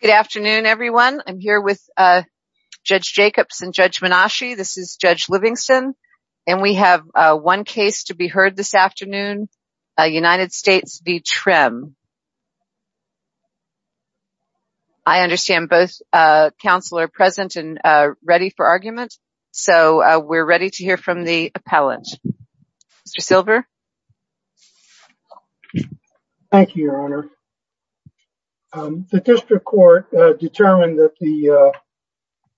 Good afternoon, everyone. I'm here with Judge Jacobs and Judge Minashi. This is Judge Livingston, and we have one case to be heard this afternoon, United States v. Trimm. I understand both counsel are present and ready for argument, so we're ready to hear from the appellant. Mr. Silver? Thank you, Your Honor. The district court determined that the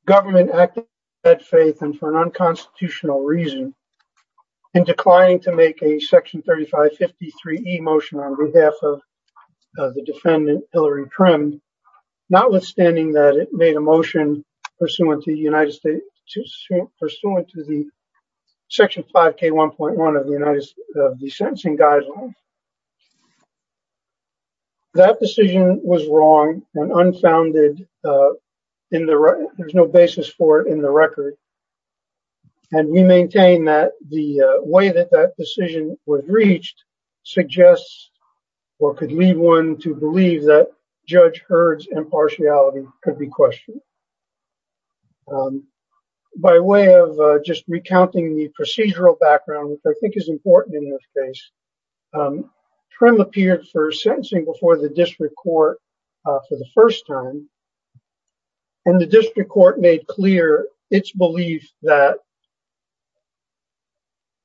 government acted in bad faith and for an unconstitutional reason in declining to make a section 3553e motion on behalf of the defendant, Hillary Trimm, notwithstanding that it made a motion pursuant to the United States, pursuant to the section 5k1.1 of the sentencing guidelines. That decision was wrong and unfounded. There's no basis for it in the record, and we maintain that the way that that decision was reached suggests or could lead one to believe that Judge Hurd's impartiality could be questioned. By way of just recounting the procedural background, which I think is important in this case, Trimm appeared for sentencing before the district court for the first time, and the district court made clear its belief that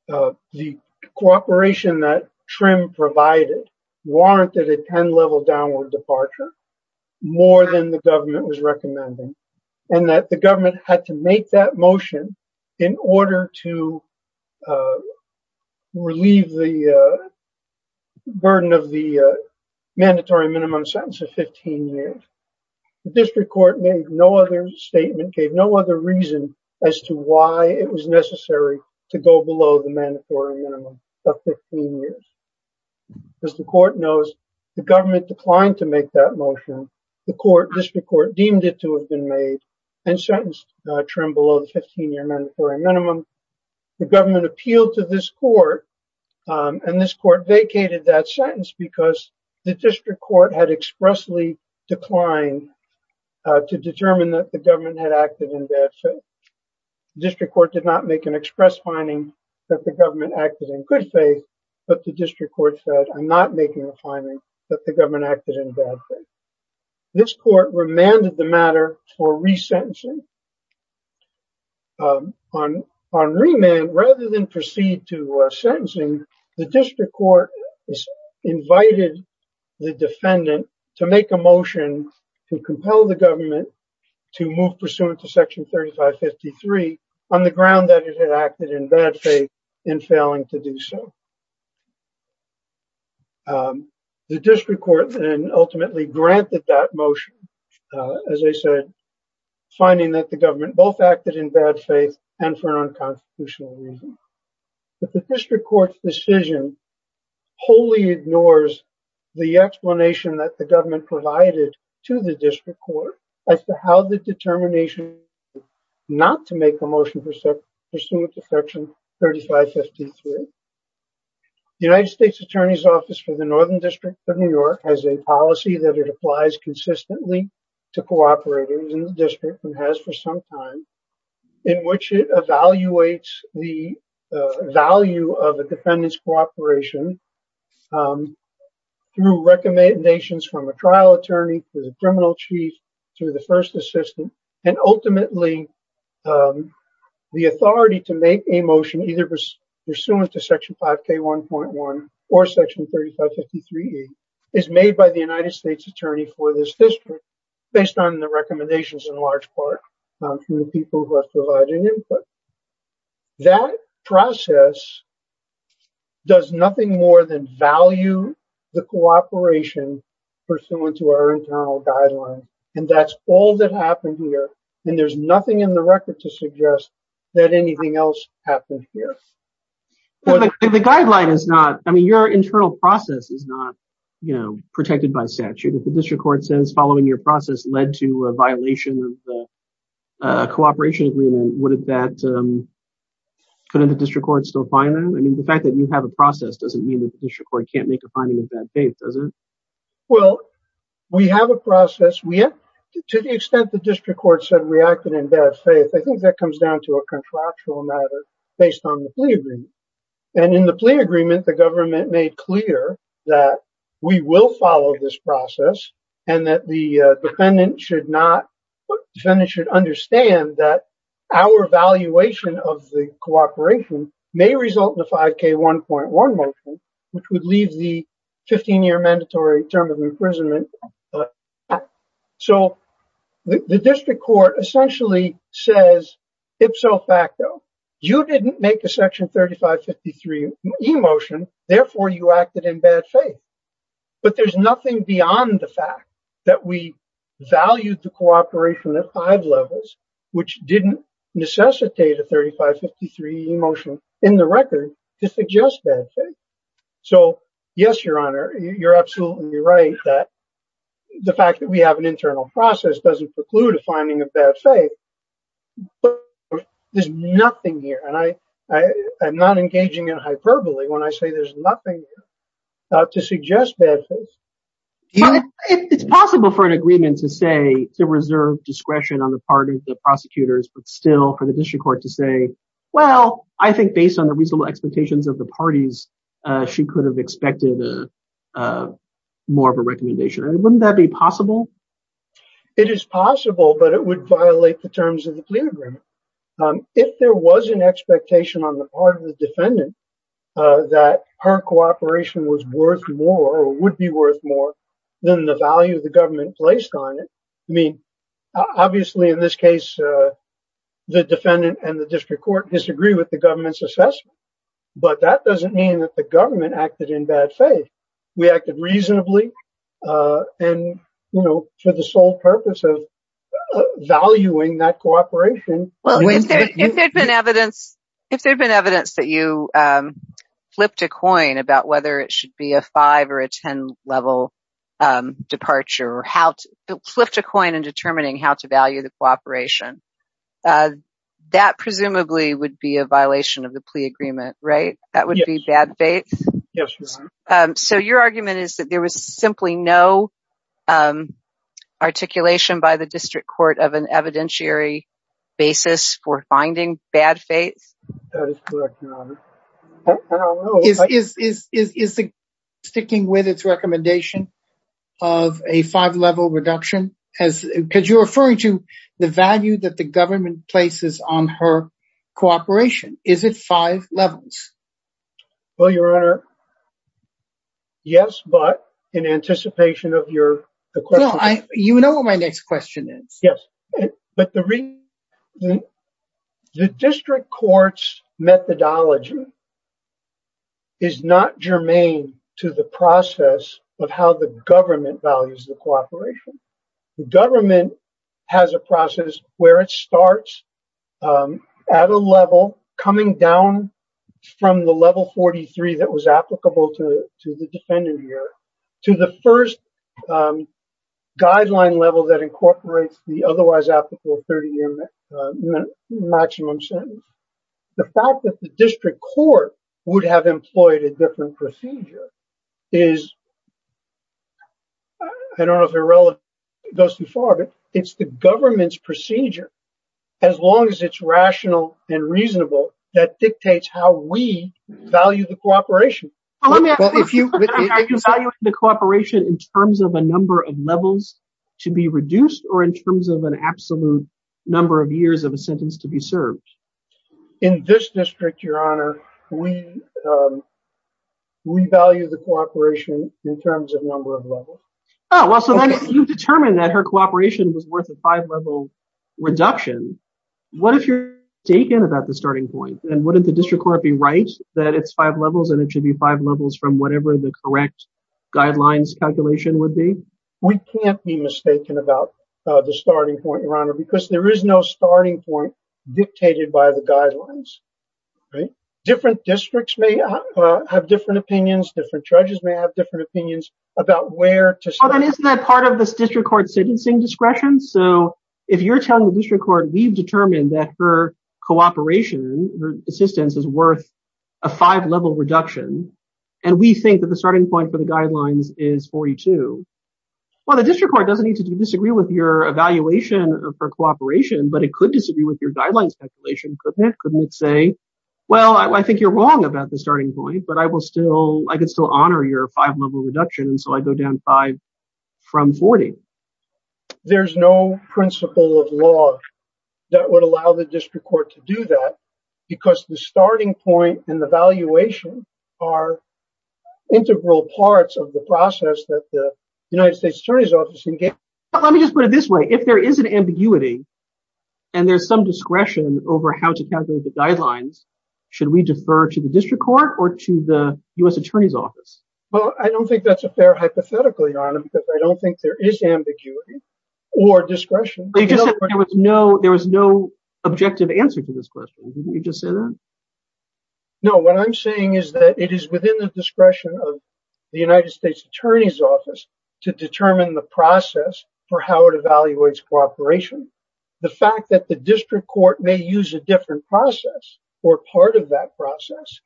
the cooperation that Trimm provided warranted a 10-level downward departure more than the government was recommending, and that the government had to make that motion in order to relieve the burden of the mandatory minimum sentence of 15 years. The district court made no other statement, gave no other reason as to why it was necessary to go below the mandatory minimum of 15 years. As the court knows, the government declined to make that motion. The district court deemed it to have been made and sentenced Trimm below the 15-year mandatory minimum. The government appealed to this court, and this court vacated that sentence because the district court had expressly declined to determine that the government had acted in bad faith. The district court did not make an express finding that the government acted in good faith, but the district court said, I'm not making a finding that the government acted in bad faith. This court remanded the matter for resentencing. On remand, rather than proceed to sentencing, the district court invited the defendant to make a motion to compel the government to move pursuant to section 3553 on the ground that it had acted in bad faith in failing to do so. The district court then ultimately granted that motion, as I said, finding that the government both acted in bad faith and for an unconstitutional reason. But the district court's decision wholly ignores the explanation that the government provided to the district court as to how the determination was not to make a motion pursuant to section 3553. The United States Attorney's Office for the Northern District of New York has a policy that applies consistently to cooperators in the district and has for some time in which it evaluates the value of the defendant's cooperation through recommendations from a trial attorney, to the criminal chief, to the first assistant, and ultimately the authority to make a motion pursuant to section 5K1.1 or section 3553 is made by the United States Attorney for this district based on the recommendations in large part from the people who are providing input. That process does nothing more than value the cooperation pursuant to our internal guidelines, and that's all that happened here, and there's nothing in the record to suggest that anything else happened here. The guideline is not, I mean, your internal process is not, you know, protected by statute. If the district court says following your process led to a violation of the cooperation agreement, wouldn't that, couldn't the district court still find that? I mean, the fact that you have a process doesn't mean that the district court can't make a finding of bad faith, does it? Well, we have a process. We have, to the extent the district court said in bad faith, I think that comes down to a contractual matter based on the plea agreement, and in the plea agreement, the government made clear that we will follow this process, and that the defendant should not, the defendant should understand that our valuation of the cooperation may result in a 5K1.1 motion, which would leave the 15-year mandatory term of says ipso facto. You didn't make a section 3553 e-motion, therefore you acted in bad faith, but there's nothing beyond the fact that we valued the cooperation at five levels, which didn't necessitate a 3553 e-motion in the record to suggest bad faith. So, yes, your honor, you're absolutely right that the fact that we have an internal process doesn't preclude a finding of bad faith, but there's nothing here, and I'm not engaging in hyperbole when I say there's nothing to suggest bad faith. It's possible for an agreement to say to reserve discretion on the part of the prosecutors, but still for the district court to say, well, I think based on the reasonable expectations of the parties, she could have expected more of a recommendation. Wouldn't that be possible? It is possible, but it would violate the terms of the plea agreement. If there was an expectation on the part of the defendant that her cooperation was worth more or would be worth more than the value the government placed on it, I mean, obviously in this case, the defendant and the district court disagree with the government's assessment, but that doesn't mean that the government acted in bad faith. We acted reasonably, and, you know, for the sole purpose of valuing that cooperation. Well, if there had been evidence that you flipped a coin about whether it should be a five or a 10 level departure or how to flip the coin in determining how to value the cooperation, that presumably would be a violation of the plea agreement, right? That would be bad faith? Yes. So your argument is that there was simply no articulation by the district court of an evidentiary basis for finding bad faith? That is correct, Your Honor. I don't know. Is sticking with its recommendation of a five-level reduction, because you're referring to the value that the government places on her in anticipation of your question? No, you know what my next question is. Yes, but the district court's methodology is not germane to the process of how the government values the cooperation. The government has a process where it starts at a level coming down from the level 43 that was applicable to the defendant here to the first guideline level that incorporates the otherwise applicable 30-year maximum sentence. The fact that the district court would have employed a different procedure is, I don't know if it goes too far, but it's the government's procedure, as long as it's rational and reasonable, that dictates how we value the cooperation. Are you valuing the cooperation in terms of a number of levels to be reduced or in terms of an absolute number of years of a sentence to be served? In this district, Your Honor, we value the cooperation in terms of number of levels. Oh, well, so then you've determined that her cooperation was worth a five-level reduction. What if you're mistaken about the starting point and wouldn't the district court be right that it's five levels and it should be five levels from whatever the correct guidelines calculation would be? We can't be mistaken about the starting point, Your Honor, because there is no starting point dictated by the guidelines. Different districts may have different opinions, different judges may have different opinions about where to start. Isn't that part of this district court sentencing discretion? If you're telling the district court we've determined that her cooperation, her assistance is worth a five-level reduction and we think that the starting point for the guidelines is 42, well, the district court doesn't need to disagree with your evaluation of her cooperation, but it could disagree with your guidelines calculation, couldn't it? Couldn't it say, well, I think you're wrong about the from 40? There's no principle of law that would allow the district court to do that because the starting point and the valuation are integral parts of the process that the United States Attorney's Office engaged. Let me just put it this way. If there is an ambiguity and there's some discretion over how to calculate the guidelines, should we defer to the district court or to the U.S. Attorney's Office? Well, I don't think that's hypothetical, Your Honor, because I don't think there is ambiguity or discretion. You just said there was no objective answer to this question. Didn't you just say that? No, what I'm saying is that it is within the discretion of the United States Attorney's Office to determine the process for how it evaluates cooperation. The fact that the district court may use a different process or part of that process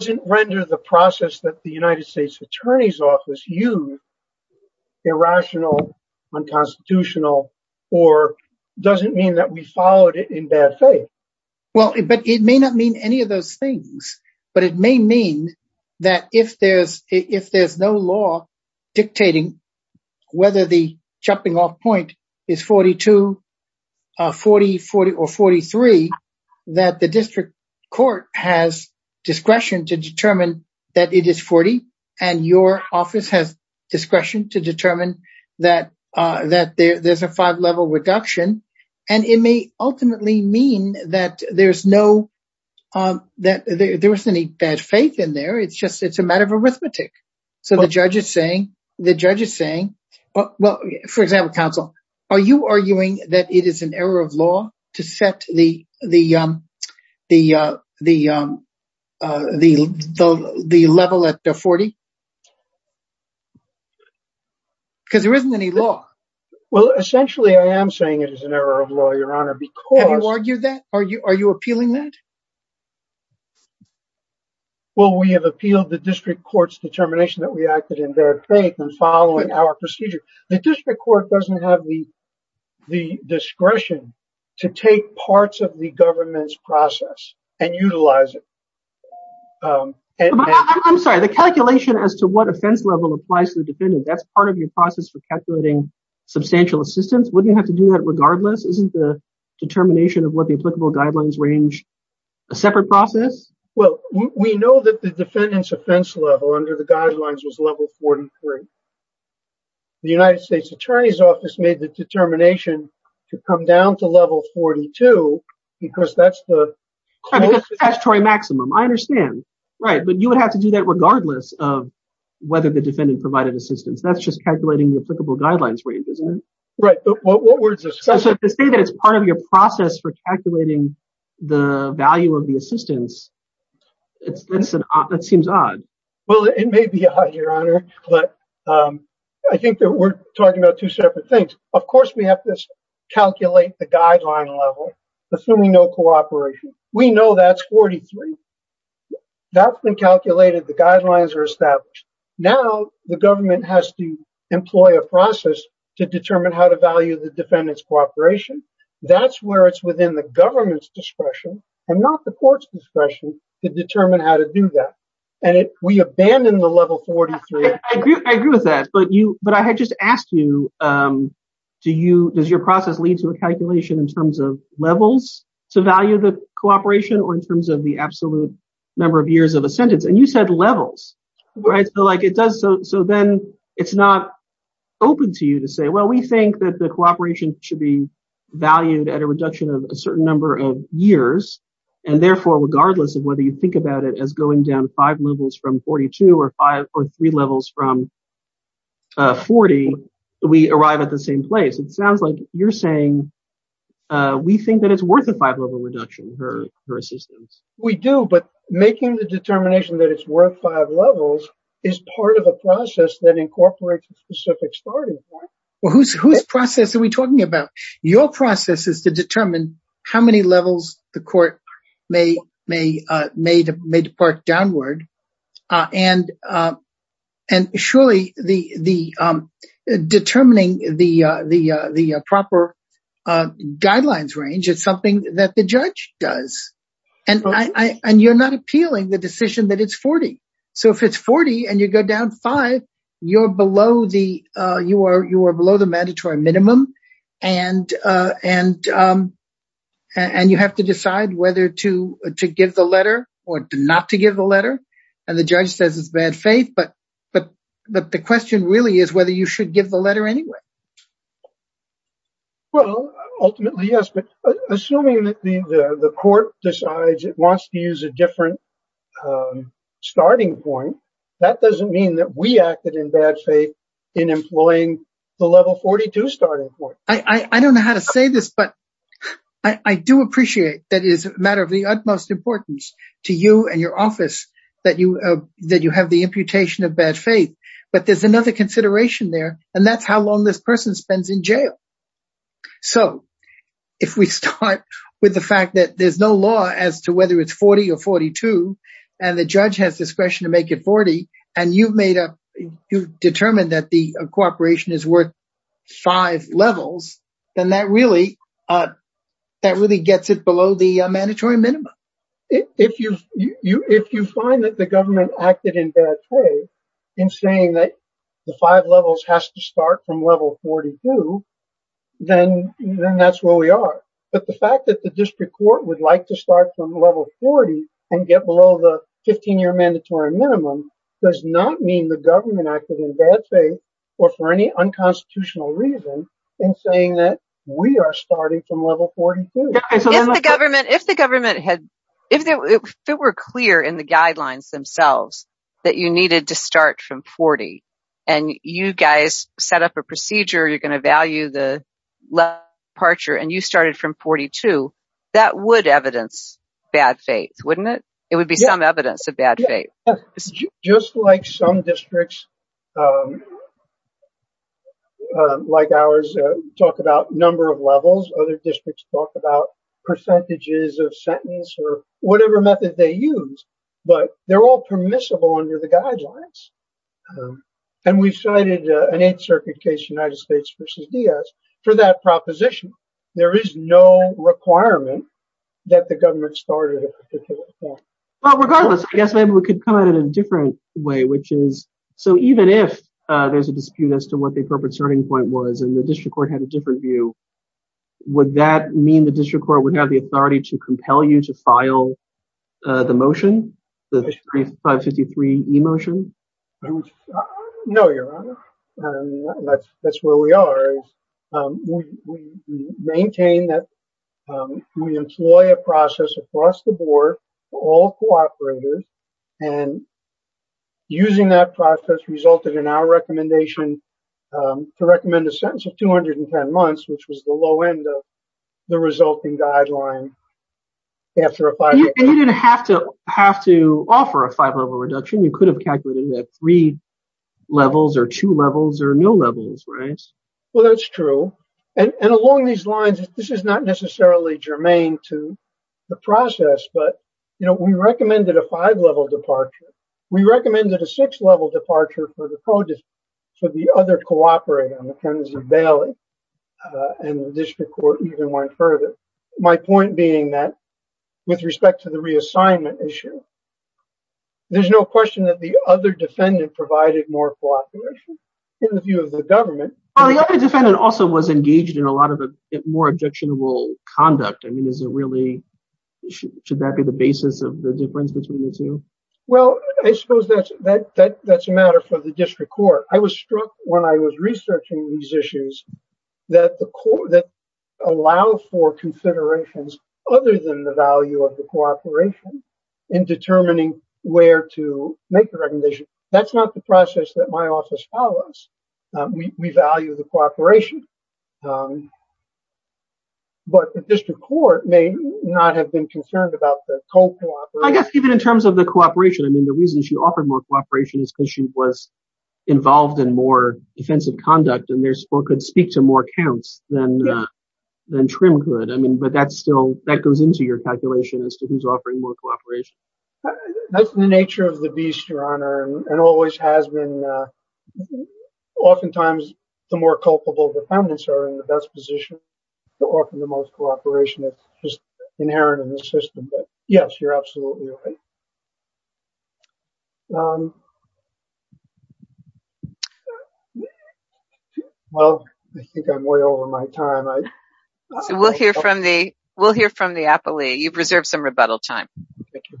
doesn't render the process that the United States Attorney's Office used irrational, unconstitutional, or doesn't mean that we followed it in bad faith. Well, but it may not mean any of those things, but it may mean that if there's no law dictating whether the jumping off point is 42, 40, 40, or 43, that the district court has discretion to determine that it is 40, and your office has discretion to determine that there's a five-level reduction, and it may ultimately mean that there's no, that there isn't any bad faith in there. It's just, it's a matter of arithmetic. So the judge is saying, the judge is saying, well, for example, counsel, are you arguing that it is an error of law to set the level at 40? Because there isn't any law. Well, essentially, I am saying it is an error of law, your honor, because... Have you argued that? Are you appealing that? Well, we have appealed the district court's determination that we acted in bad faith and our procedure. The district court doesn't have the discretion to take parts of the government's process and utilize it. I'm sorry, the calculation as to what offense level applies to the defendant, that's part of your process for calculating substantial assistance. Wouldn't you have to do that regardless? Isn't the determination of what the applicable guidelines range a separate process? Well, we know that the defendant's offense level under the guidelines was level 43. The United States attorney's office made the determination to come down to level 42 because that's the... Because that's statutory maximum. I understand. Right. But you would have to do that regardless of whether the defendant provided assistance. That's just calculating the applicable guidelines range, isn't it? Right. But what words... So to say that it's part of your process for calculating the value of the assistance, that seems odd. Well, it may be odd, Your Honor, but I think that we're talking about two separate things. Of course, we have to calculate the guideline level, assuming no cooperation. We know that's 43. That's been calculated. The guidelines are established. Now the government has to employ a process to determine how to value the defendant's cooperation. That's where it's within the government's discretion and not the court's discretion to determine how to do that. And we abandon the level 43. I agree with that. But I had just asked you, does your process lead to a calculation in terms of levels to value the cooperation or in terms of the absolute number of years of a sentence? And you said levels. So then it's not open to you to say, well, we think that the cooperation should be valued at a reduction of a certain number of levels. So if we have five levels from 42 or three levels from 40, we arrive at the same place. It sounds like you're saying we think that it's worth a five-level reduction, her assistance. We do, but making the determination that it's worth five levels is part of a process that incorporates a specific starting point. Well, whose process are we talking about? Your process is to determine how many levels the court may depart downward. And surely determining the proper guidelines range is something that the judge does. And you're not appealing the decision that it's 40. So if it's 40 and you go down five, you are below the mandatory minimum. And you have to decide whether to give the letter or not to give the letter. And the judge says it's bad faith. But the question really is whether you should give the letter anyway. Well, ultimately, yes. But assuming that the court decides it wants to use a different starting point, that doesn't mean that we acted in bad faith in employing the level 42 starting point. I don't know how to say this, but I do appreciate that it is a matter of the utmost importance to you and your office that you have the imputation of bad faith. But there's another consideration there, and that's how long this person spends in jail. So if we start with the fact that there's no law as to whether it's 40 or 42, and the judge has discretion to make it 40, and you've determined that the cooperation is worth five levels, then that really gets it below the mandatory minimum. If you find that the government acted in bad faith in saying that the five levels has to start from level 42, then that's where we are. But the fact that the district court would like to start from level 40 and get below the 15-year mandatory minimum does not mean the government acted in bad faith or for any unconstitutional reason in saying that we are starting from level 42. If it were clear in the guidelines themselves that you needed to start from 40, and you guys set up a procedure, you're going to value the level departure, and you started from 42, that would evidence bad faith, wouldn't it? It would be some evidence of bad faith. Just like some districts, like ours, talk about number of levels, other districts talk about percentages of sentence or whatever method they use, but they're all permissible under the guidelines. And we've cited an Eighth Circuit case, United States v. Diaz, for that proposition. There is no requirement that the government started at a particular point. Well, regardless, I guess maybe we could come at it in a different way, which is, so even if there's a dispute as to what the appropriate starting point was and the district court had a different view, would that mean the district court would have the authority to compel you to file the motion, the 553E motion? No, Your Honor. That's where we are. We maintain that we employ a process across the board for all cooperators, and using that process resulted in our recommendation to recommend a sentence of 210 months, which was the low end of the resulting guideline. And you didn't have to offer a five-level reduction. You could have three levels or two levels or no levels, right? Well, that's true. And along these lines, this is not necessarily germane to the process, but we recommended a five-level departure. We recommended a six-level departure for the other cooperator, McKenzie Bailey, and the district court even went further. My point being that with respect to the reassignment issue, there's no question that the other defendant provided more cooperation in the view of the government. The other defendant also was engaged in a lot of more objectionable conduct. I mean, is it really, should that be the basis of the difference between the two? Well, I suppose that's a matter for the district court. I was struck when I was researching these issues that allow for considerations other than the value of the cooperation in determining where to make the recognition. That's not the process that my office follows. We value the cooperation, but the district court may not have been concerned about the total. I guess even in terms of the cooperation, I mean, the reason she offered more cooperation is because she was involved in more defensive conduct and could speak to more counts than Trim could. I mean, but that's still, that goes into your calculation as to who's offering more cooperation. That's the nature of the beast, Your Honor, and always has been. Oftentimes, the more culpable defendants are in the best position to offer the most cooperation that's just inherent in the system. But yes, you're absolutely right. Well, I think I'm way over my time. We'll hear from the appellee. You've reserved some rebuttal time. Thank you.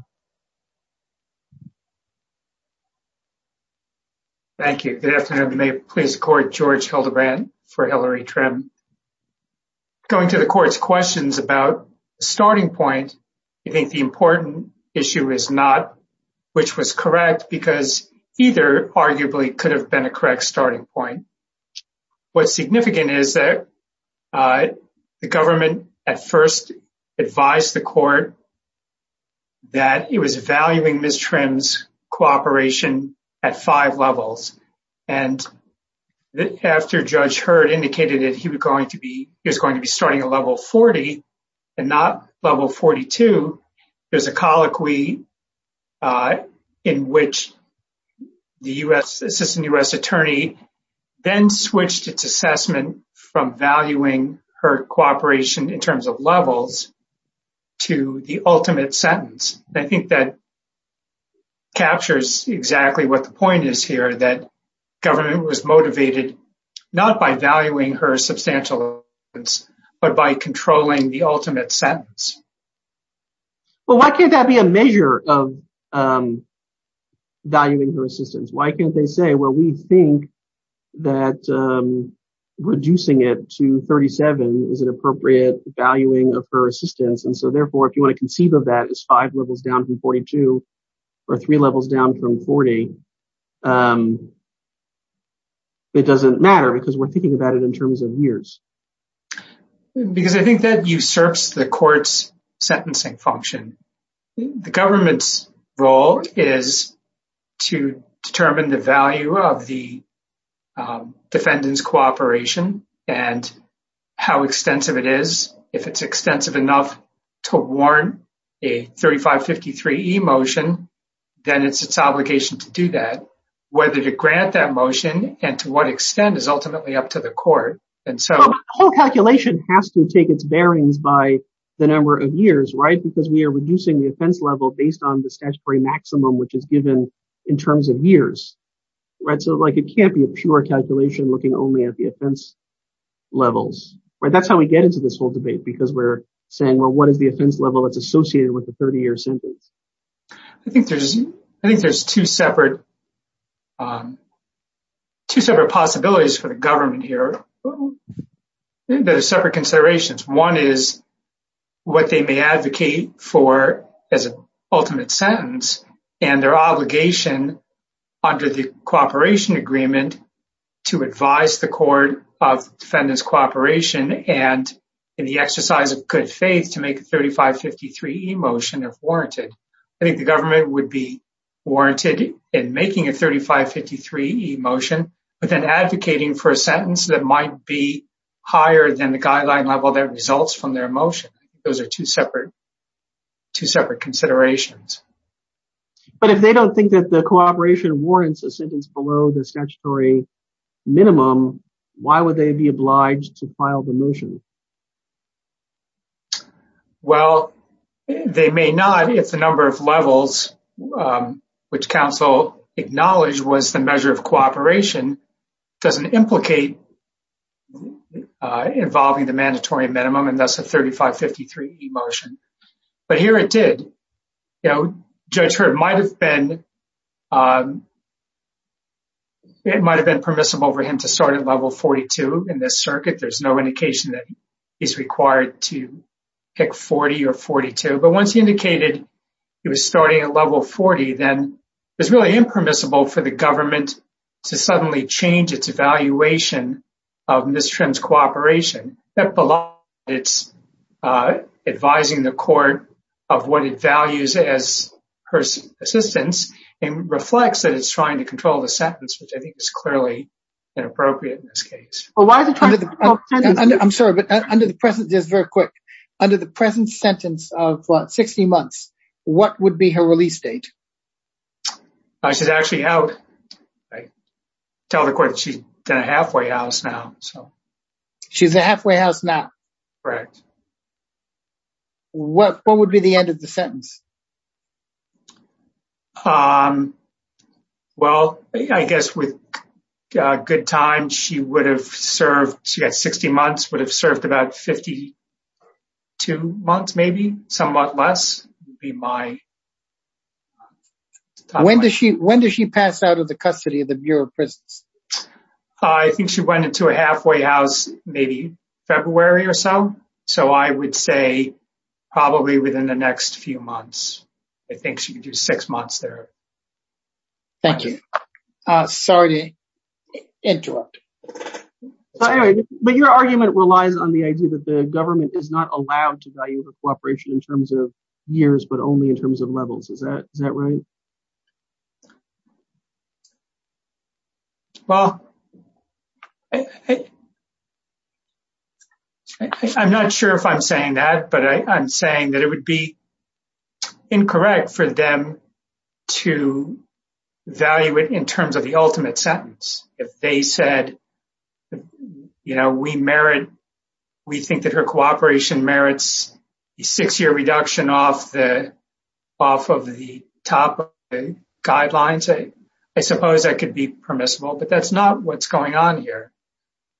Thank you. Good afternoon. May it please the Court, George Hildebrand for Hillary Trim. Going to the Court's questions about starting point, I think the important issue is not which was correct because either arguably could have been a correct starting point. What's significant is that the government at first advised the Court that it was valuing Ms. Trim's cooperation at five levels. And after Judge Hurd indicated that he was going to be starting at level 40 and not level 42, there's a colloquy in which the Assistant U.S. Attorney then switched its assessment from valuing her cooperation in terms of levels to the ultimate sentence. I think that captures exactly what the point is here, that government was motivated not by valuing her substantial evidence but by valuing her assistance. Why can't they say, well, we think that reducing it to 37 is an appropriate valuing of her assistance. And so therefore, if you want to conceive of that as five levels down from 42 or three levels down from 40, it doesn't matter because we're thinking about it in terms of years. Because I think that usurps the Court's sentencing function. The government's role is to determine the value of the defendant's cooperation and how extensive it is. If it's extensive enough to warrant a 3553E motion, then it's its obligation to do that. Whether to grant that motion and to what extent is ultimately up to the Court. The whole calculation has to take its bearings by the number of years, right? Because we are reducing the offense level based on the maximum which is given in terms of years, right? So, it can't be a pure calculation looking only at the offense levels, right? That's how we get into this whole debate because we're saying, well, what is the offense level that's associated with the 30-year sentence? I think there's two separate possibilities for the government here that are separate considerations. One is what they may advocate for as an ultimate sentence and their obligation under the cooperation agreement to advise the Court of defendant's cooperation and in the exercise of good faith to make a 3553E motion if warranted. I think the government would be warranted in making a 3553E motion but then advocating for a sentence that might be higher than the guideline level that results from their motion. Those are two separate considerations. But if they don't think that the cooperation warrants a sentence below the statutory minimum, why would they be obliged to file the motion? Well, they may not. It's the number of levels which counsel acknowledged was the measure of involving the mandatory minimum and that's a 3553E motion. But here it did. You know, Judge Heard might have been permissible for him to start at level 42 in this circuit. There's no indication that he's required to pick 40 or 42. But once he indicated he was starting at level 40, then it was really impermissible for the government to suddenly change its evaluation of Ms. Trim's cooperation. It's advising the Court of what it values as her assistance and reflects that it's trying to control the sentence, which I think is clearly inappropriate in this case. I'm sorry, but under the present, just very quick, under the present sentence of 60 months, what would be her release date? She's actually out. I tell the Court that she's in a halfway house now, so. She's in a halfway house now? Correct. When would be the end of the sentence? Well, I guess with good time, she would have served, she had 60 months, would have served 52 months, maybe, somewhat less. When does she pass out of the custody of the Bureau of Prisons? I think she went into a halfway house maybe February or so. So I would say probably within the next few months. I think she could do six months there. Thank you. Sorry to interrupt. So anyway, but your argument relies on the idea that the government is not allowed to value the cooperation in terms of years, but only in terms of levels. Is that right? Well, I'm not sure if I'm saying that, but I'm saying that it would be incorrect for them to value it in terms of the ultimate sentence. If they said, we think that her cooperation merits a six-year reduction off of the top guidelines, I suppose that could be permissible, but that's not what's going on here.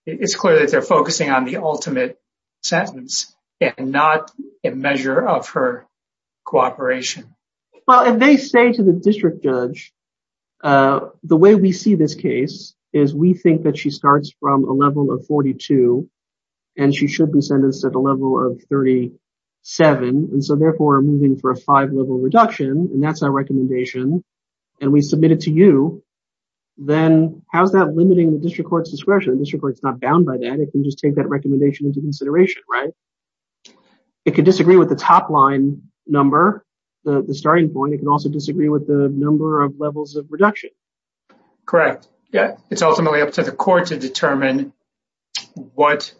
It's clear that they're focusing on the ultimate sentence and not a measure of her cooperation. Well, if they say to the district judge, the way we see this case is we think that she starts from a level of 42 and she should be sentenced at a level of 37, and so therefore moving for a five-level reduction, and that's our recommendation, and we submit it to you, then how's that limiting the district court's discretion? The district court's not bound by that. It can just take that as the starting point. It can also disagree with the number of levels of reduction. Correct. It's ultimately up to the court to determine what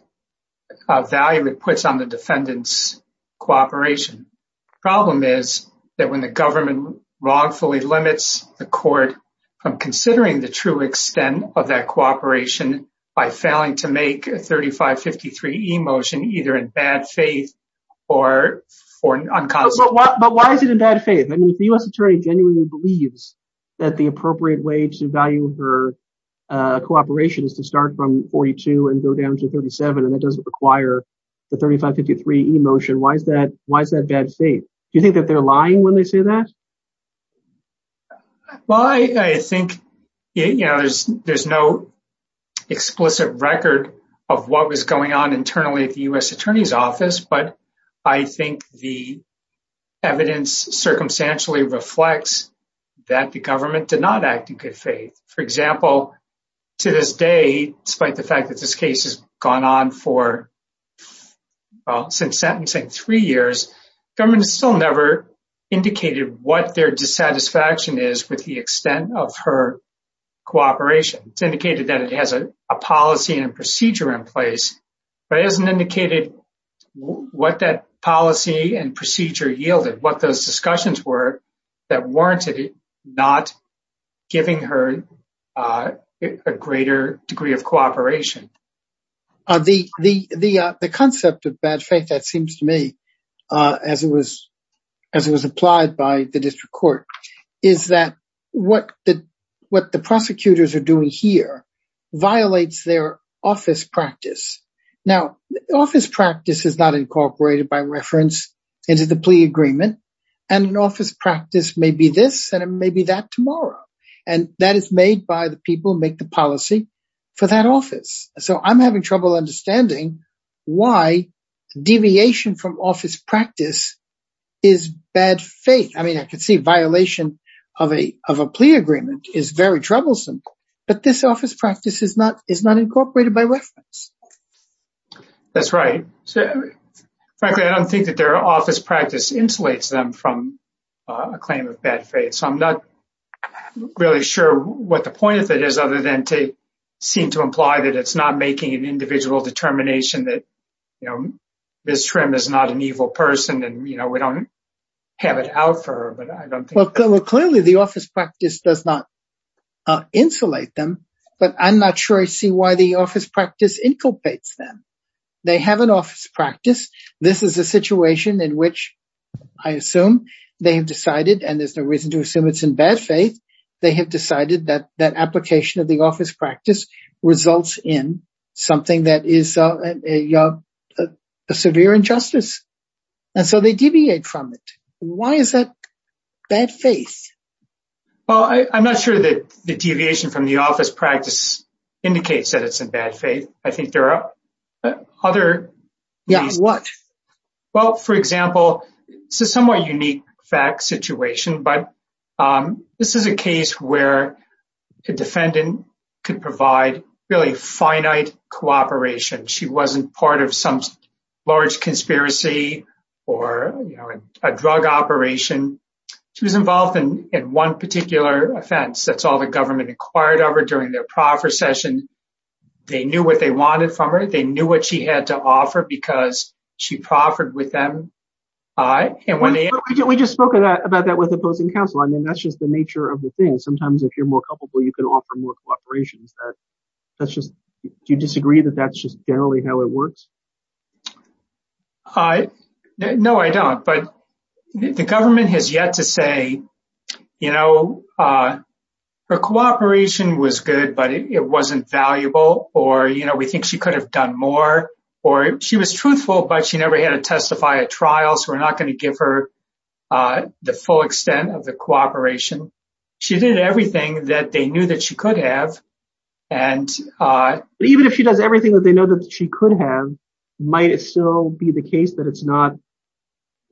value it puts on the defendant's cooperation. The problem is that when the government wrongfully limits the court from considering the true extent of that cooperation by failing to make a 3553e motion, either in bad faith, I mean, if the U.S. attorney genuinely believes that the appropriate way to value her cooperation is to start from 42 and go down to 37, and that doesn't require the 3553e motion, why is that bad faith? Do you think that they're lying when they say that? Well, I think there's no explicit record of what was going on internally at the U.S. attorney's court. I think the evidence circumstantially reflects that the government did not act in good faith. For example, to this day, despite the fact that this case has gone on for, well, since sentencing, three years, government has still never indicated what their dissatisfaction is with the extent of her cooperation. It's indicated that it has a policy and procedure yielded, what those discussions were that warranted not giving her a greater degree of cooperation. The concept of bad faith, that seems to me, as it was applied by the district court, is that what the prosecutors are doing here violates their office practice. Now, office practice is not incorporated by reference into the plea agreement, and an office practice may be this and it may be that tomorrow, and that is made by the people who make the policy for that office. So I'm having trouble understanding why deviation from office practice is bad faith. I mean, I can see violation of a plea agreement is very troublesome, but this office practice is not incorporated by reference. That's right. So frankly, I don't think that their office practice insulates them from a claim of bad faith. So I'm not really sure what the point of it is, other than to seem to imply that it's not making an individual determination that, you know, Ms. Schrimm is not an evil person and, you know, we don't have it out for her, I don't think. Well, clearly, the office practice does not insulate them, but I'm not sure I see why the office practice inculpates them. They have an office practice. This is a situation in which, I assume, they have decided, and there's no reason to assume it's in bad faith, they have decided that that application of the office practice results in something that is a severe injustice. And so they deviate from it. Why is that bad faith? Well, I'm not sure that the deviation from the office practice indicates that it's in bad faith. I think there are other reasons. Yeah, what? Well, for example, it's a somewhat unique fact situation, but this is a case where a defendant could provide really finite cooperation. She wasn't part of some large conspiracy, or, you know, a drug operation. She was involved in one particular offense. That's all the government acquired of her during their proffer session. They knew what they wanted from her, they knew what she had to offer because she proffered with them. We just spoke about that with opposing counsel. I mean, that's just the nature of the thing. Sometimes if you're more comfortable, you can offer more cooperation. Do you disagree that that's just generally how it works? No, I don't. But the government has yet to say, you know, her cooperation was good, but it wasn't valuable, or, you know, we think she could have done more, or she was truthful, but she never had to testify at trial. So we're not going to give her the full extent of the cooperation. She did everything that they knew that she could have. And even if she does everything that they know that she could have, might it still be the case that it's not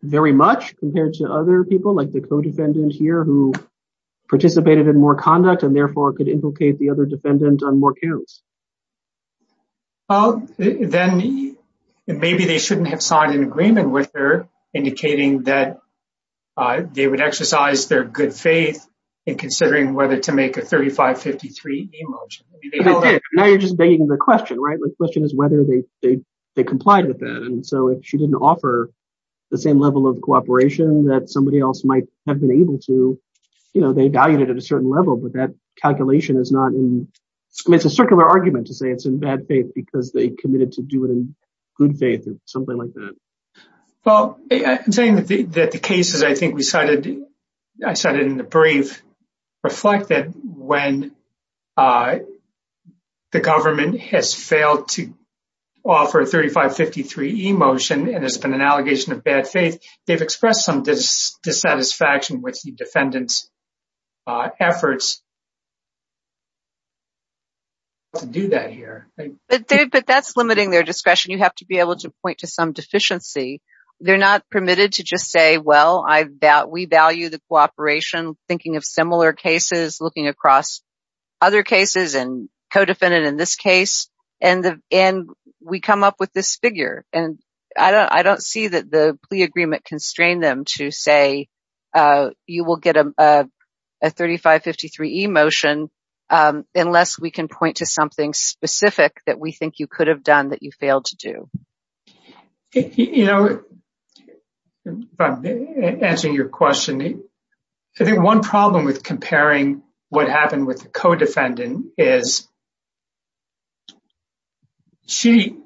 very much compared to other people like the co-defendant here who participated in more conduct and therefore could implicate the other defendant on more counts? Well, then maybe they shouldn't have an agreement with her, indicating that they would exercise their good faith in considering whether to make a 3553 emotion. Now you're just begging the question, right? The question is whether they complied with that. And so if she didn't offer the same level of cooperation that somebody else might have been able to, you know, they valued it at a certain level, but that calculation is not in, it's a circular argument to say it's in bad faith because they committed to do it in good faith or something like that. Well, I'm saying that the cases I think we cited, I cited in the brief, reflect that when the government has failed to offer a 3553 emotion and it's been an allegation of bad faith, they've expressed some dissatisfaction with the defendant's efforts to do that here. But that's limiting their discretion. You have to be able to point to some deficiency. They're not permitted to just say, well, we value the cooperation, thinking of similar cases, looking across other cases and co-defendant in this case, and we come up with this figure. And I don't see that the plea agreement constrained them to say you will get a 3553 emotion unless we can point to something specific that we think you could have done that you failed to do. You know, by answering your question, I think one problem with comparing what happened with the co-defendant is she,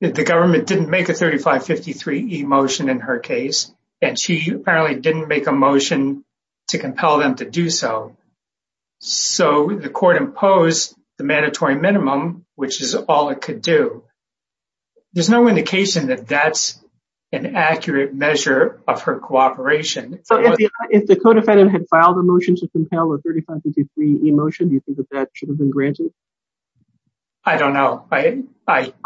the government didn't make a 3553 emotion in her case, and she apparently didn't make a motion to compel them to do so. So the court imposed the mandatory minimum, which is all it could do. There's no indication that that's an accurate measure of her cooperation. If the co-defendant had filed a motion to compel a 3553 emotion, do you think that that should have been granted? I don't know.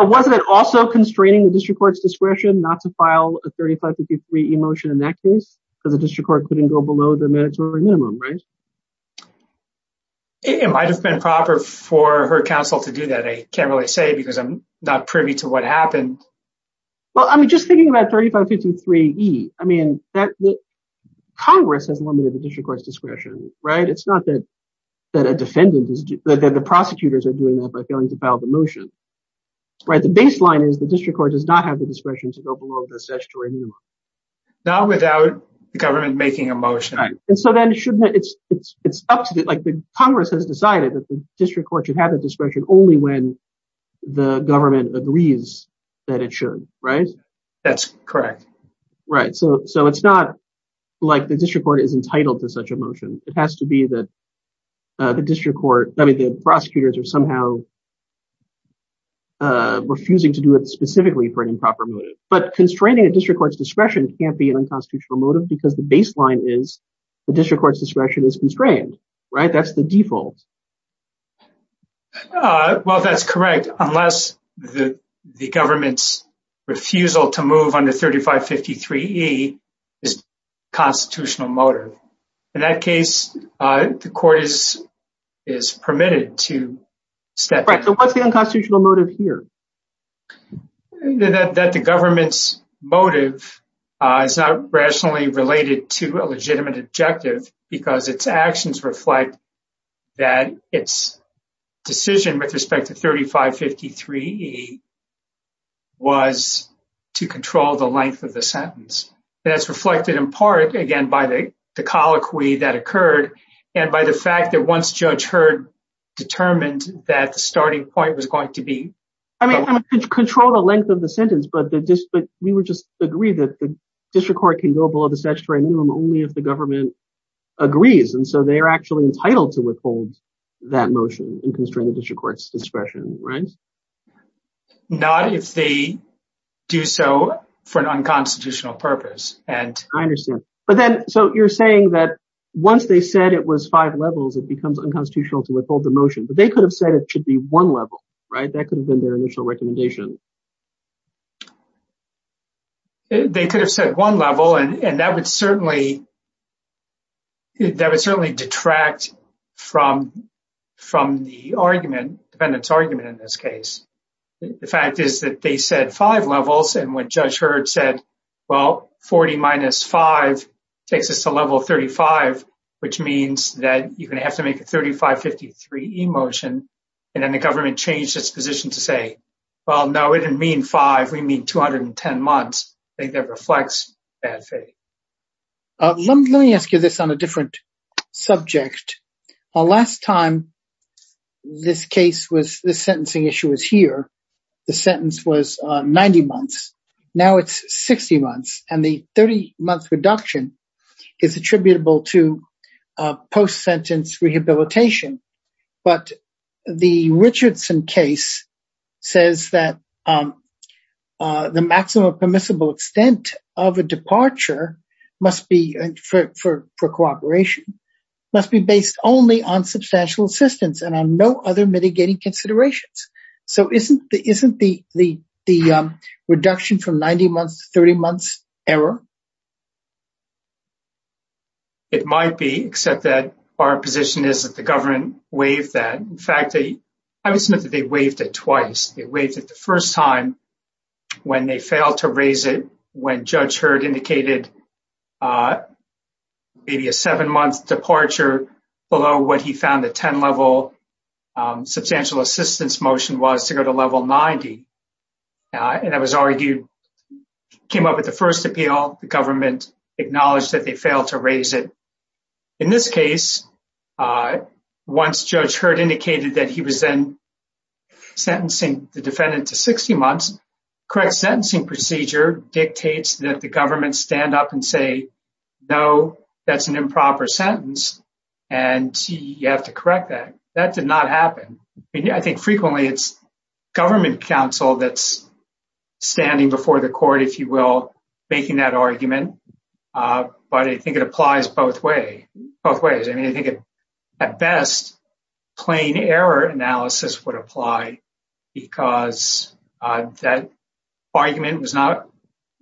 Wasn't it also constraining the district court's discretion not to file a 3553 emotion in that case? Because the district court couldn't go below the mandatory minimum, right? It might have been proper for her counsel to do that. I can't really say because I'm not privy to what happened. Well, I mean, just thinking about 3553E, I mean, Congress has limited the district court's discretion, right? It's not that the prosecutors are doing that by failing to file the motion, right? The baseline is the district court does not have the discretion to go below the statutory minimum. Not without the government making a motion. And so then shouldn't it, it's up to the, like the Congress has decided that the district court should have the discretion only when the government agrees that it should, right? That's correct. Right. So it's not like the district court is entitled to such a motion. It has to be that the district court, I mean, the prosecutors are somehow refusing to do it specifically for an improper motive. But constraining a district court's discretion can't be an unconstitutional motive because the baseline is the district court's discretion is constrained, right? That's the default. Well, that's correct. Unless the government's refusal to move under 3553E is a constitutional motive. In that case, the court is permitted to step in. Right. So what's the unconstitutional motive here? That the government's motive is not rationally related to a legitimate objective because its actions reflect that its decision with respect to 3553E was to control the length of the sentence. That's reflected in part, again, by the colloquy that occurred and by the fact that once Judge was going to be... I mean, control the length of the sentence, but we would just agree that the district court can go below the statutory minimum only if the government agrees. And so they are actually entitled to withhold that motion and constrain the district court's discretion, right? Not if they do so for an unconstitutional purpose. I understand. But then, so you're saying that once they said it was five levels, it becomes unconstitutional to withhold the motion. But they could have said it should be one level, right? That could have been their initial recommendation. They could have said one level and that would certainly detract from the argument, defendant's argument in this case. The fact is that they said five levels and when Judge Heard said, well, 40 minus five takes us to level 35, which means that you're going to have to make a 3553E motion. And then the government changed its position to say, well, no, it didn't mean five, we mean 210 months. I think that reflects bad faith. Let me ask you this on a different subject. Last time, this case was the sentencing issue was here. The sentence was 90 months. Now it's 60 months and the 30 month reduction is attributable to post-sentence rehabilitation. But the Richardson case says that the maximum permissible extent of a departure must be for cooperation, must be based only on substantial assistance and on no other mitigating considerations. So isn't the reduction from 90 months to 30 months error? It might be, except that our position is that the government waived that. In fact, I would submit that they waived it twice. They waived it the first time when they failed to raise it, when Judge Heard indicated maybe a seven month departure below what he found the 10 level substantial assistance motion was to go to level 90. And that was argued, came up with the first appeal, the government acknowledged that they failed to raise it. In this case, once Judge Heard indicated that he was then the defendant to 60 months, correct sentencing procedure dictates that the government stand up and say, no, that's an improper sentence. And you have to correct that. That did not happen. I think frequently it's government counsel that's standing before the court, if you will, making that argument. But I think it applies both ways. I mean, I think at best, plain error analysis would apply because that argument was not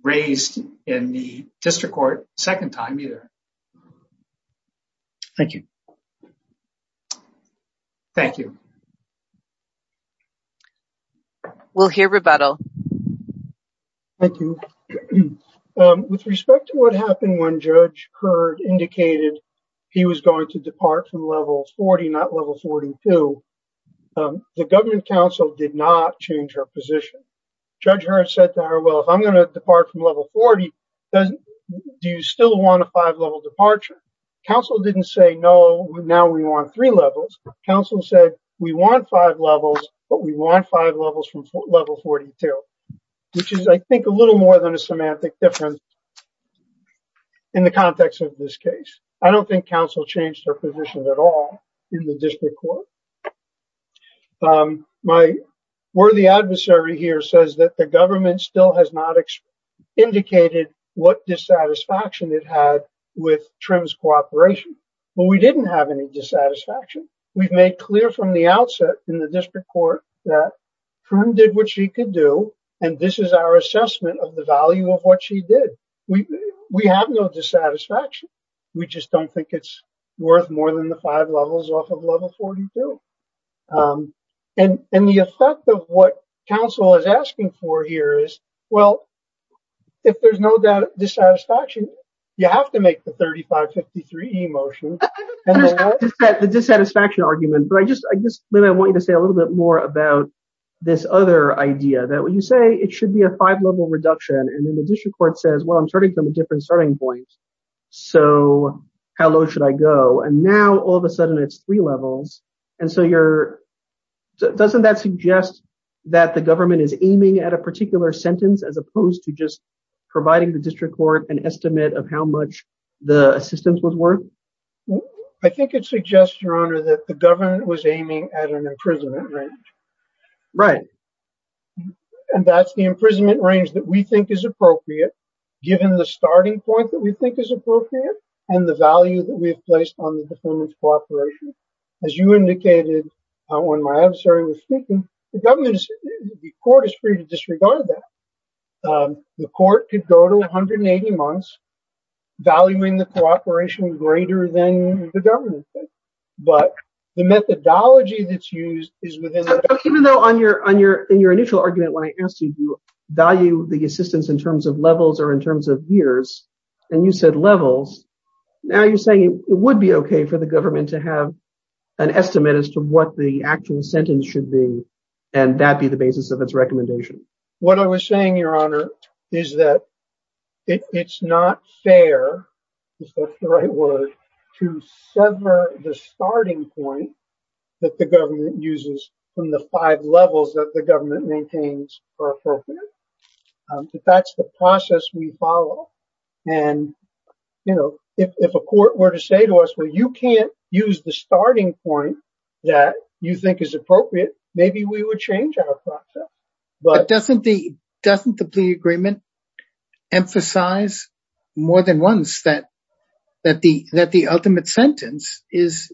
raised in the district court second time either. Thank you. Thank you. We'll hear rebuttal. Thank you. With respect to what happened when Judge Heard indicated he was going to depart from level 40, not level 42, the government counsel did not change her position. Judge Heard said to her, well, if I'm going to depart from level 40, do you still want a five level departure? Counsel didn't say, no, now we want three levels. Counsel said, we want five levels, but we want five levels from level 42, which is, I think a little more than a semantic difference in the context of this case. I don't think counsel changed her position at all in the district court. My worthy adversary here says that the government still has not indicated what dissatisfaction it had with Trim's cooperation. Well, we didn't have any dissatisfaction. We've made clear from the outset in the district court that Trim did what she could do, and this is our assessment of the we have no dissatisfaction. We just don't think it's worth more than the five levels off of level 42. The effect of what counsel is asking for here is, well, if there's no dissatisfaction, you have to make the 3553E motion. The dissatisfaction argument, but I just want you to say a little bit more about this other idea that when you say it should be a five level reduction, and then the district court says, well, I'm starting from a different starting point, so how low should I go? Now, all of a sudden, it's three levels. Doesn't that suggest that the government is aiming at a particular sentence as opposed to just providing the district court an estimate of how much the assistance was worth? I think it suggests, Your Honor, that the we think is appropriate, given the starting point that we think is appropriate, and the value that we've placed on the performance cooperation. As you indicated when my adversary was speaking, the government court is free to disregard that. The court could go to 180 months, valuing the cooperation greater than the government, but the methodology that's used is in terms of levels or in terms of years, and you said levels. Now, you're saying it would be okay for the government to have an estimate as to what the actual sentence should be, and that be the basis of its recommendation. What I was saying, Your Honor, is that it's not fair, if that's the right word, to sever the starting point that the government uses from the five levels that the process we follow. If a court were to say to us, well, you can't use the starting point that you think is appropriate, maybe we would change our process. But doesn't the plea agreement emphasize more than once that the ultimate sentence is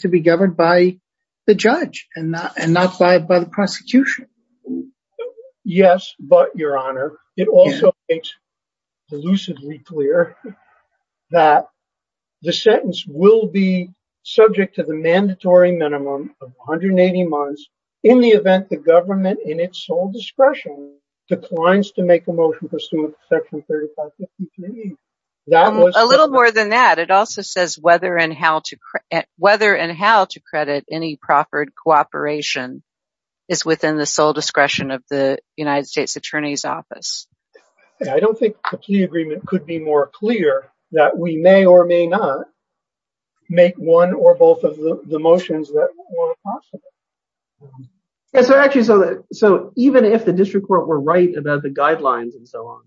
to be governed by the judge and not by the prosecution? Yes, but, Your Honor, it also makes elusively clear that the sentence will be subject to the mandatory minimum of 180 months in the event the government, in its sole discretion, declines to make a motion pursuant to Section 3553. A little more than that, it also says whether and how to credit any proffered cooperation is within the sole discretion of the United States Attorney's Office. I don't think a plea agreement could be more clear that we may or may not make one or both of the motions that were possible. Yes, actually, so even if the district court were right about the guidelines and so on,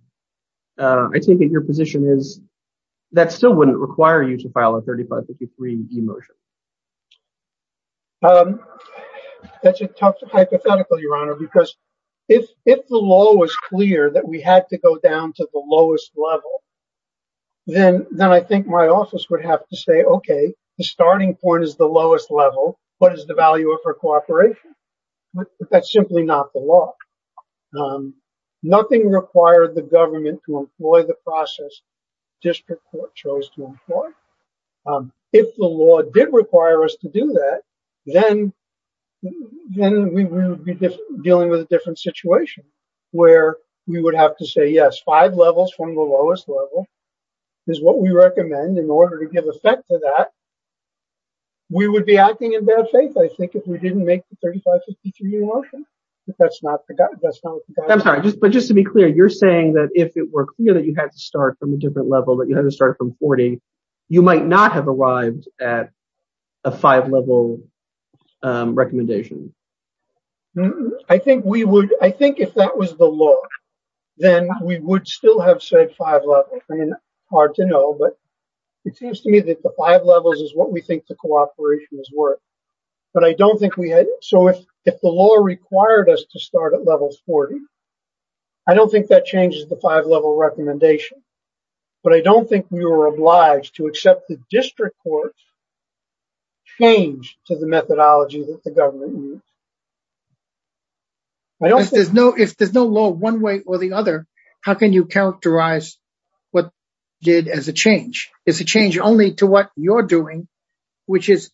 I think that your position is that still wouldn't require you to file a 3553 emotion. That's a tough hypothetical, Your Honor, because if the law was clear that we had to go down to the lowest level, then I think my office would have to say, okay, the starting point is the lowest level, what is the value of our cooperation? But that's simply not the law. Nothing required the government to employ the process the district court chose to employ. If the law did require us to do that, then we would be dealing with a different situation where we would have to say, yes, five levels from the lowest level is what we recommend. In order to give effect to that, we would be acting in bad faith, I think, if we didn't make the 3553 motion. But that's not the guideline. I'm sorry, but just to be clear, you're saying that if it were clear that you had to start from a different level, that you had to start from 40, you might not have arrived at a five-level recommendation. I think if that was the law, then we would still have said five levels. I mean, hard to know, but it seems to me that the five levels is what we required. The law required us to start at level 40. I don't think that changes the five-level recommendation, but I don't think we were obliged to accept the district court's change to the methodology that the government used. If there's no law one way or the other, how can you characterize what did as a change? It's a change only to what you're doing, and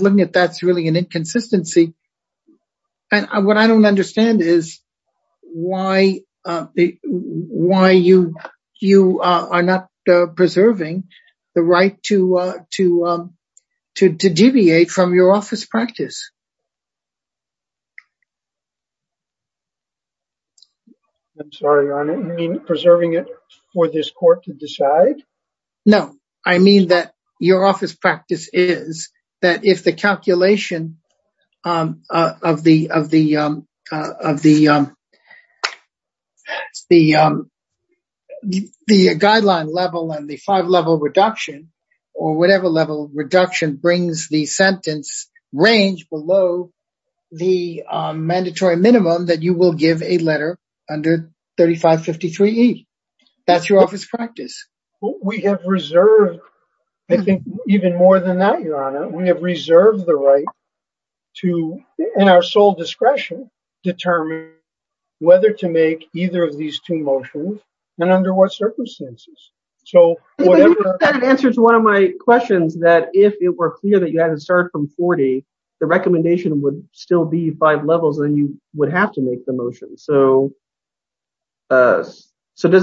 looking at that, it's really an inconsistency and what I don't understand is why you are not preserving the right to deviate from your office practice. I'm sorry, I don't mean preserving it for this court to decide. No, I mean that your office practice is that if the calculation of the guideline level and the five-level reduction or whatever level reduction brings the sentence range below the mandatory minimum that you will give a letter under 3553E. That's your office practice. We have reserved, I think, even more than that, Your Honor. We have reserved the right to, in our sole discretion, determine whether to make either of these two motions and under what circumstances. That answers one of my questions that if it were clear that you had to start from 40, the recommendation would still be five levels and you would have to make the motion. Does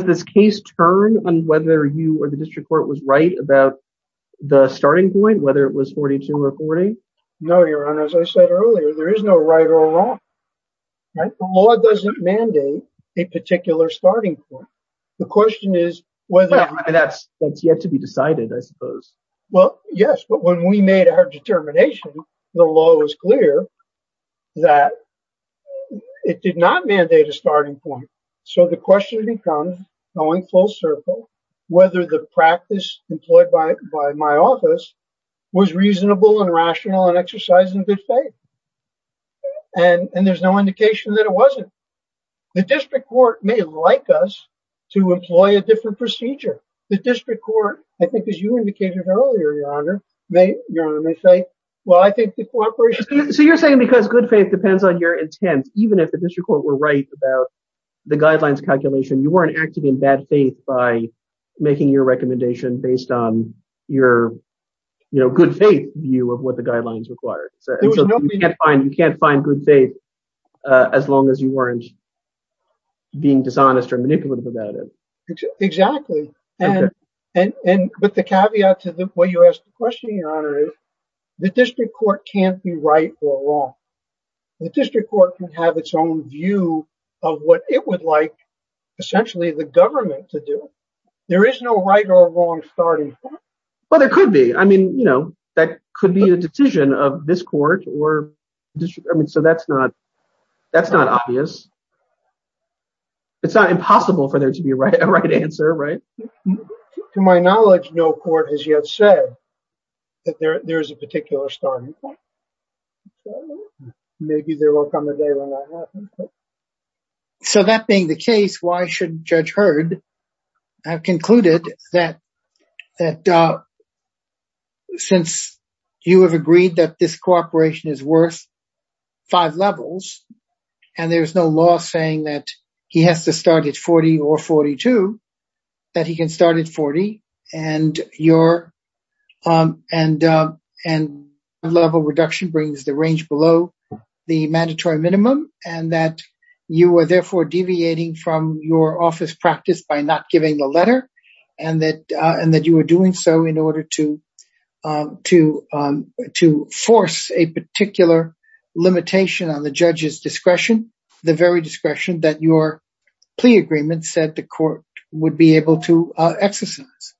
this case turn on whether you or the district court was right about the starting point, whether it was 42 or 40? No, Your Honor. As I said earlier, there is no right or wrong. The law doesn't mandate a particular starting point. The question is whether... That's yet to be decided, I suppose. Yes, but when we made our determination, the law was clear that it did not mandate a starting point. The question becomes, going full circle, whether the practice employed by my office was reasonable and rational and exercised in good faith. There's no indication that it wasn't. The district court may like us to employ a different procedure. The district court, I think, as you indicated earlier, Your Honor, may say, well, I think the cooperation... So you're saying because good faith depends on your intent, even if the district court were right about the guidelines calculation, you weren't acting in bad faith by making your recommendation based on your good faith view of what the guidelines required. You can't find good faith as long as you weren't being dishonest or manipulative about it. Exactly. But the caveat to what you asked the question, Your Honor, is the district court can't be right or wrong. The district court can have its own view of what it would like, essentially, the government to do. There is no right or wrong starting point. Well, there could be. I mean, that could be a decision of this court or... So that's not obvious. It's not impossible for there to be a right answer, right? To my knowledge, no court has yet said that there is a particular starting point. Maybe there will come a day when that happens. So that being the case, why should Judge Hurd have concluded that since you have agreed that this cooperation is worth five levels, and there's no law saying that he has to start at 40 or 42, that he can start at 40, and your level reduction brings the range below the mandatory minimum, and that you are therefore deviating from your office practice by not giving the letter, and that you were doing so in order to force a particular limitation on the judge's discretion, the very discretion that your plea agreement said the court would be able to exercise.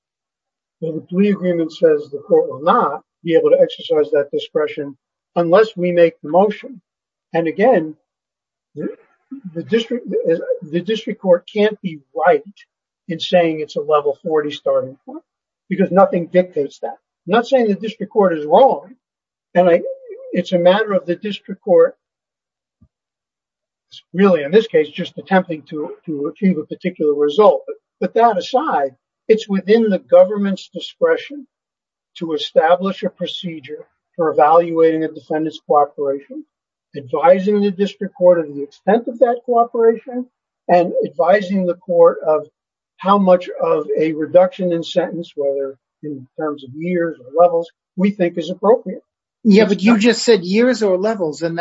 Well, the plea agreement says the court will not be able to exercise that discretion unless we make the motion. And again, the district court can't be right in saying it's a level 40 starting point, because nothing dictates that. I'm not saying the district court is wrong. And it's a matter of the district court really, in this case, just attempting to achieve a particular result. But that aside, it's within the government's discretion to establish a procedure for evaluating a defendant's cooperation, advising the district court of the extent of that cooperation, and advising the court of how much of a reduction in sentence, whether in terms of years or levels, we think is appropriate. Yeah, but you just said years or levels, and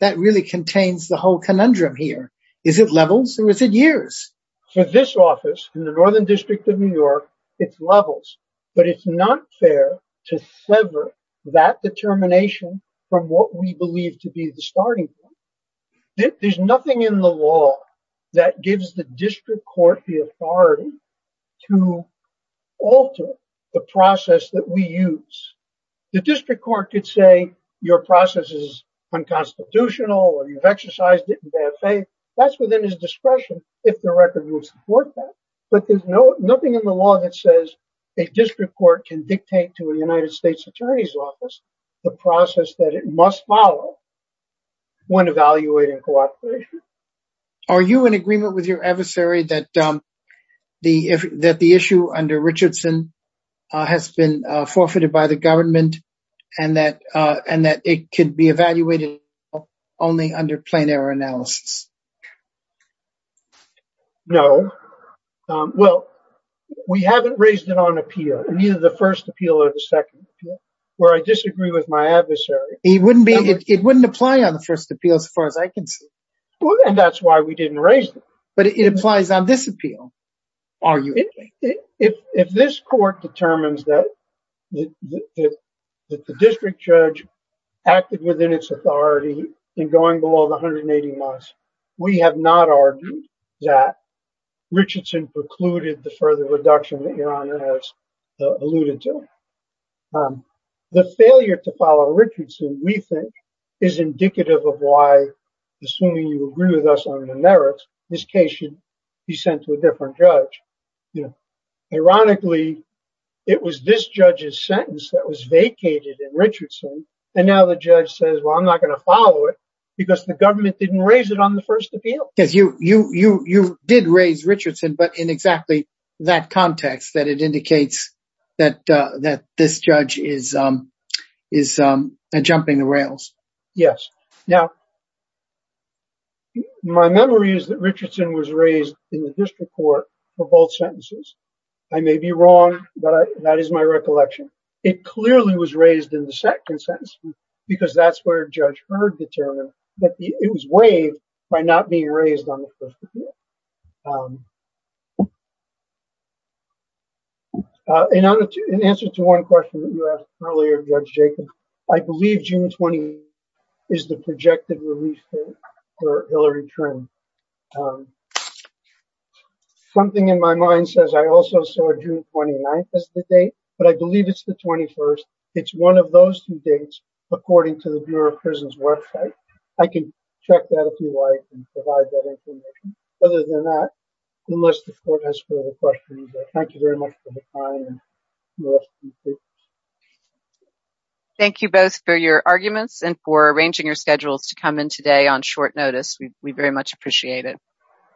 that really contains the whole conundrum here. Is it levels or is it years? For this office in the Northern District of New York, it's levels. But it's not fair to sever that determination from what we believe to be the starting point. There's nothing in the law that gives the district court the authority to alter the process that we use. The district court could say your process is unconstitutional, or you've exercised it in bad faith. That's within discretion if the record will support that. But there's nothing in the law that says a district court can dictate to a United States Attorney's Office the process that it must follow when evaluating cooperation. Are you in agreement with your adversary that the issue under Richardson has been forfeited by the government and that it could be evaluated only under plain error analysis? No. Well, we haven't raised it on appeal in either the first appeal or the second where I disagree with my adversary. It wouldn't apply on the first appeal as far as I can see. And that's why we didn't raise it. But it applies on this appeal. If this court determines that the district judge acted within its authority in going below the 180 months, we have not argued that Richardson precluded the further reduction that Your Honor has alluded to. The failure to follow Richardson, we think, is indicative of why, assuming you agree with us on the merits, this case should be sent to a different judge. Ironically, it was this judge's sentence that was vacated in because the government didn't raise it on the first appeal. Because you did raise Richardson, but in exactly that context that it indicates that this judge is jumping the rails. Yes. Now, my memory is that Richardson was raised in the district court for both sentences. I may be wrong, but that is my recollection. It clearly was raised in the second sentence because that's where Judge Heard determined that it was waived by not being raised on the first appeal. In answer to one question that you asked earlier, Judge Jacob, I believe June 20 is the projected release date for Hillary Trin. Something in my mind says I also saw June 29 as the date, but I believe it's the 21st. It's one of those two dates, according to the Bureau of Prisons website. I can check that if you like and provide that information. Other than that, unless the court has further questions, thank you very much for your time. Thank you both for your arguments and for arranging your schedules to come in today on short notice. We very much appreciate it.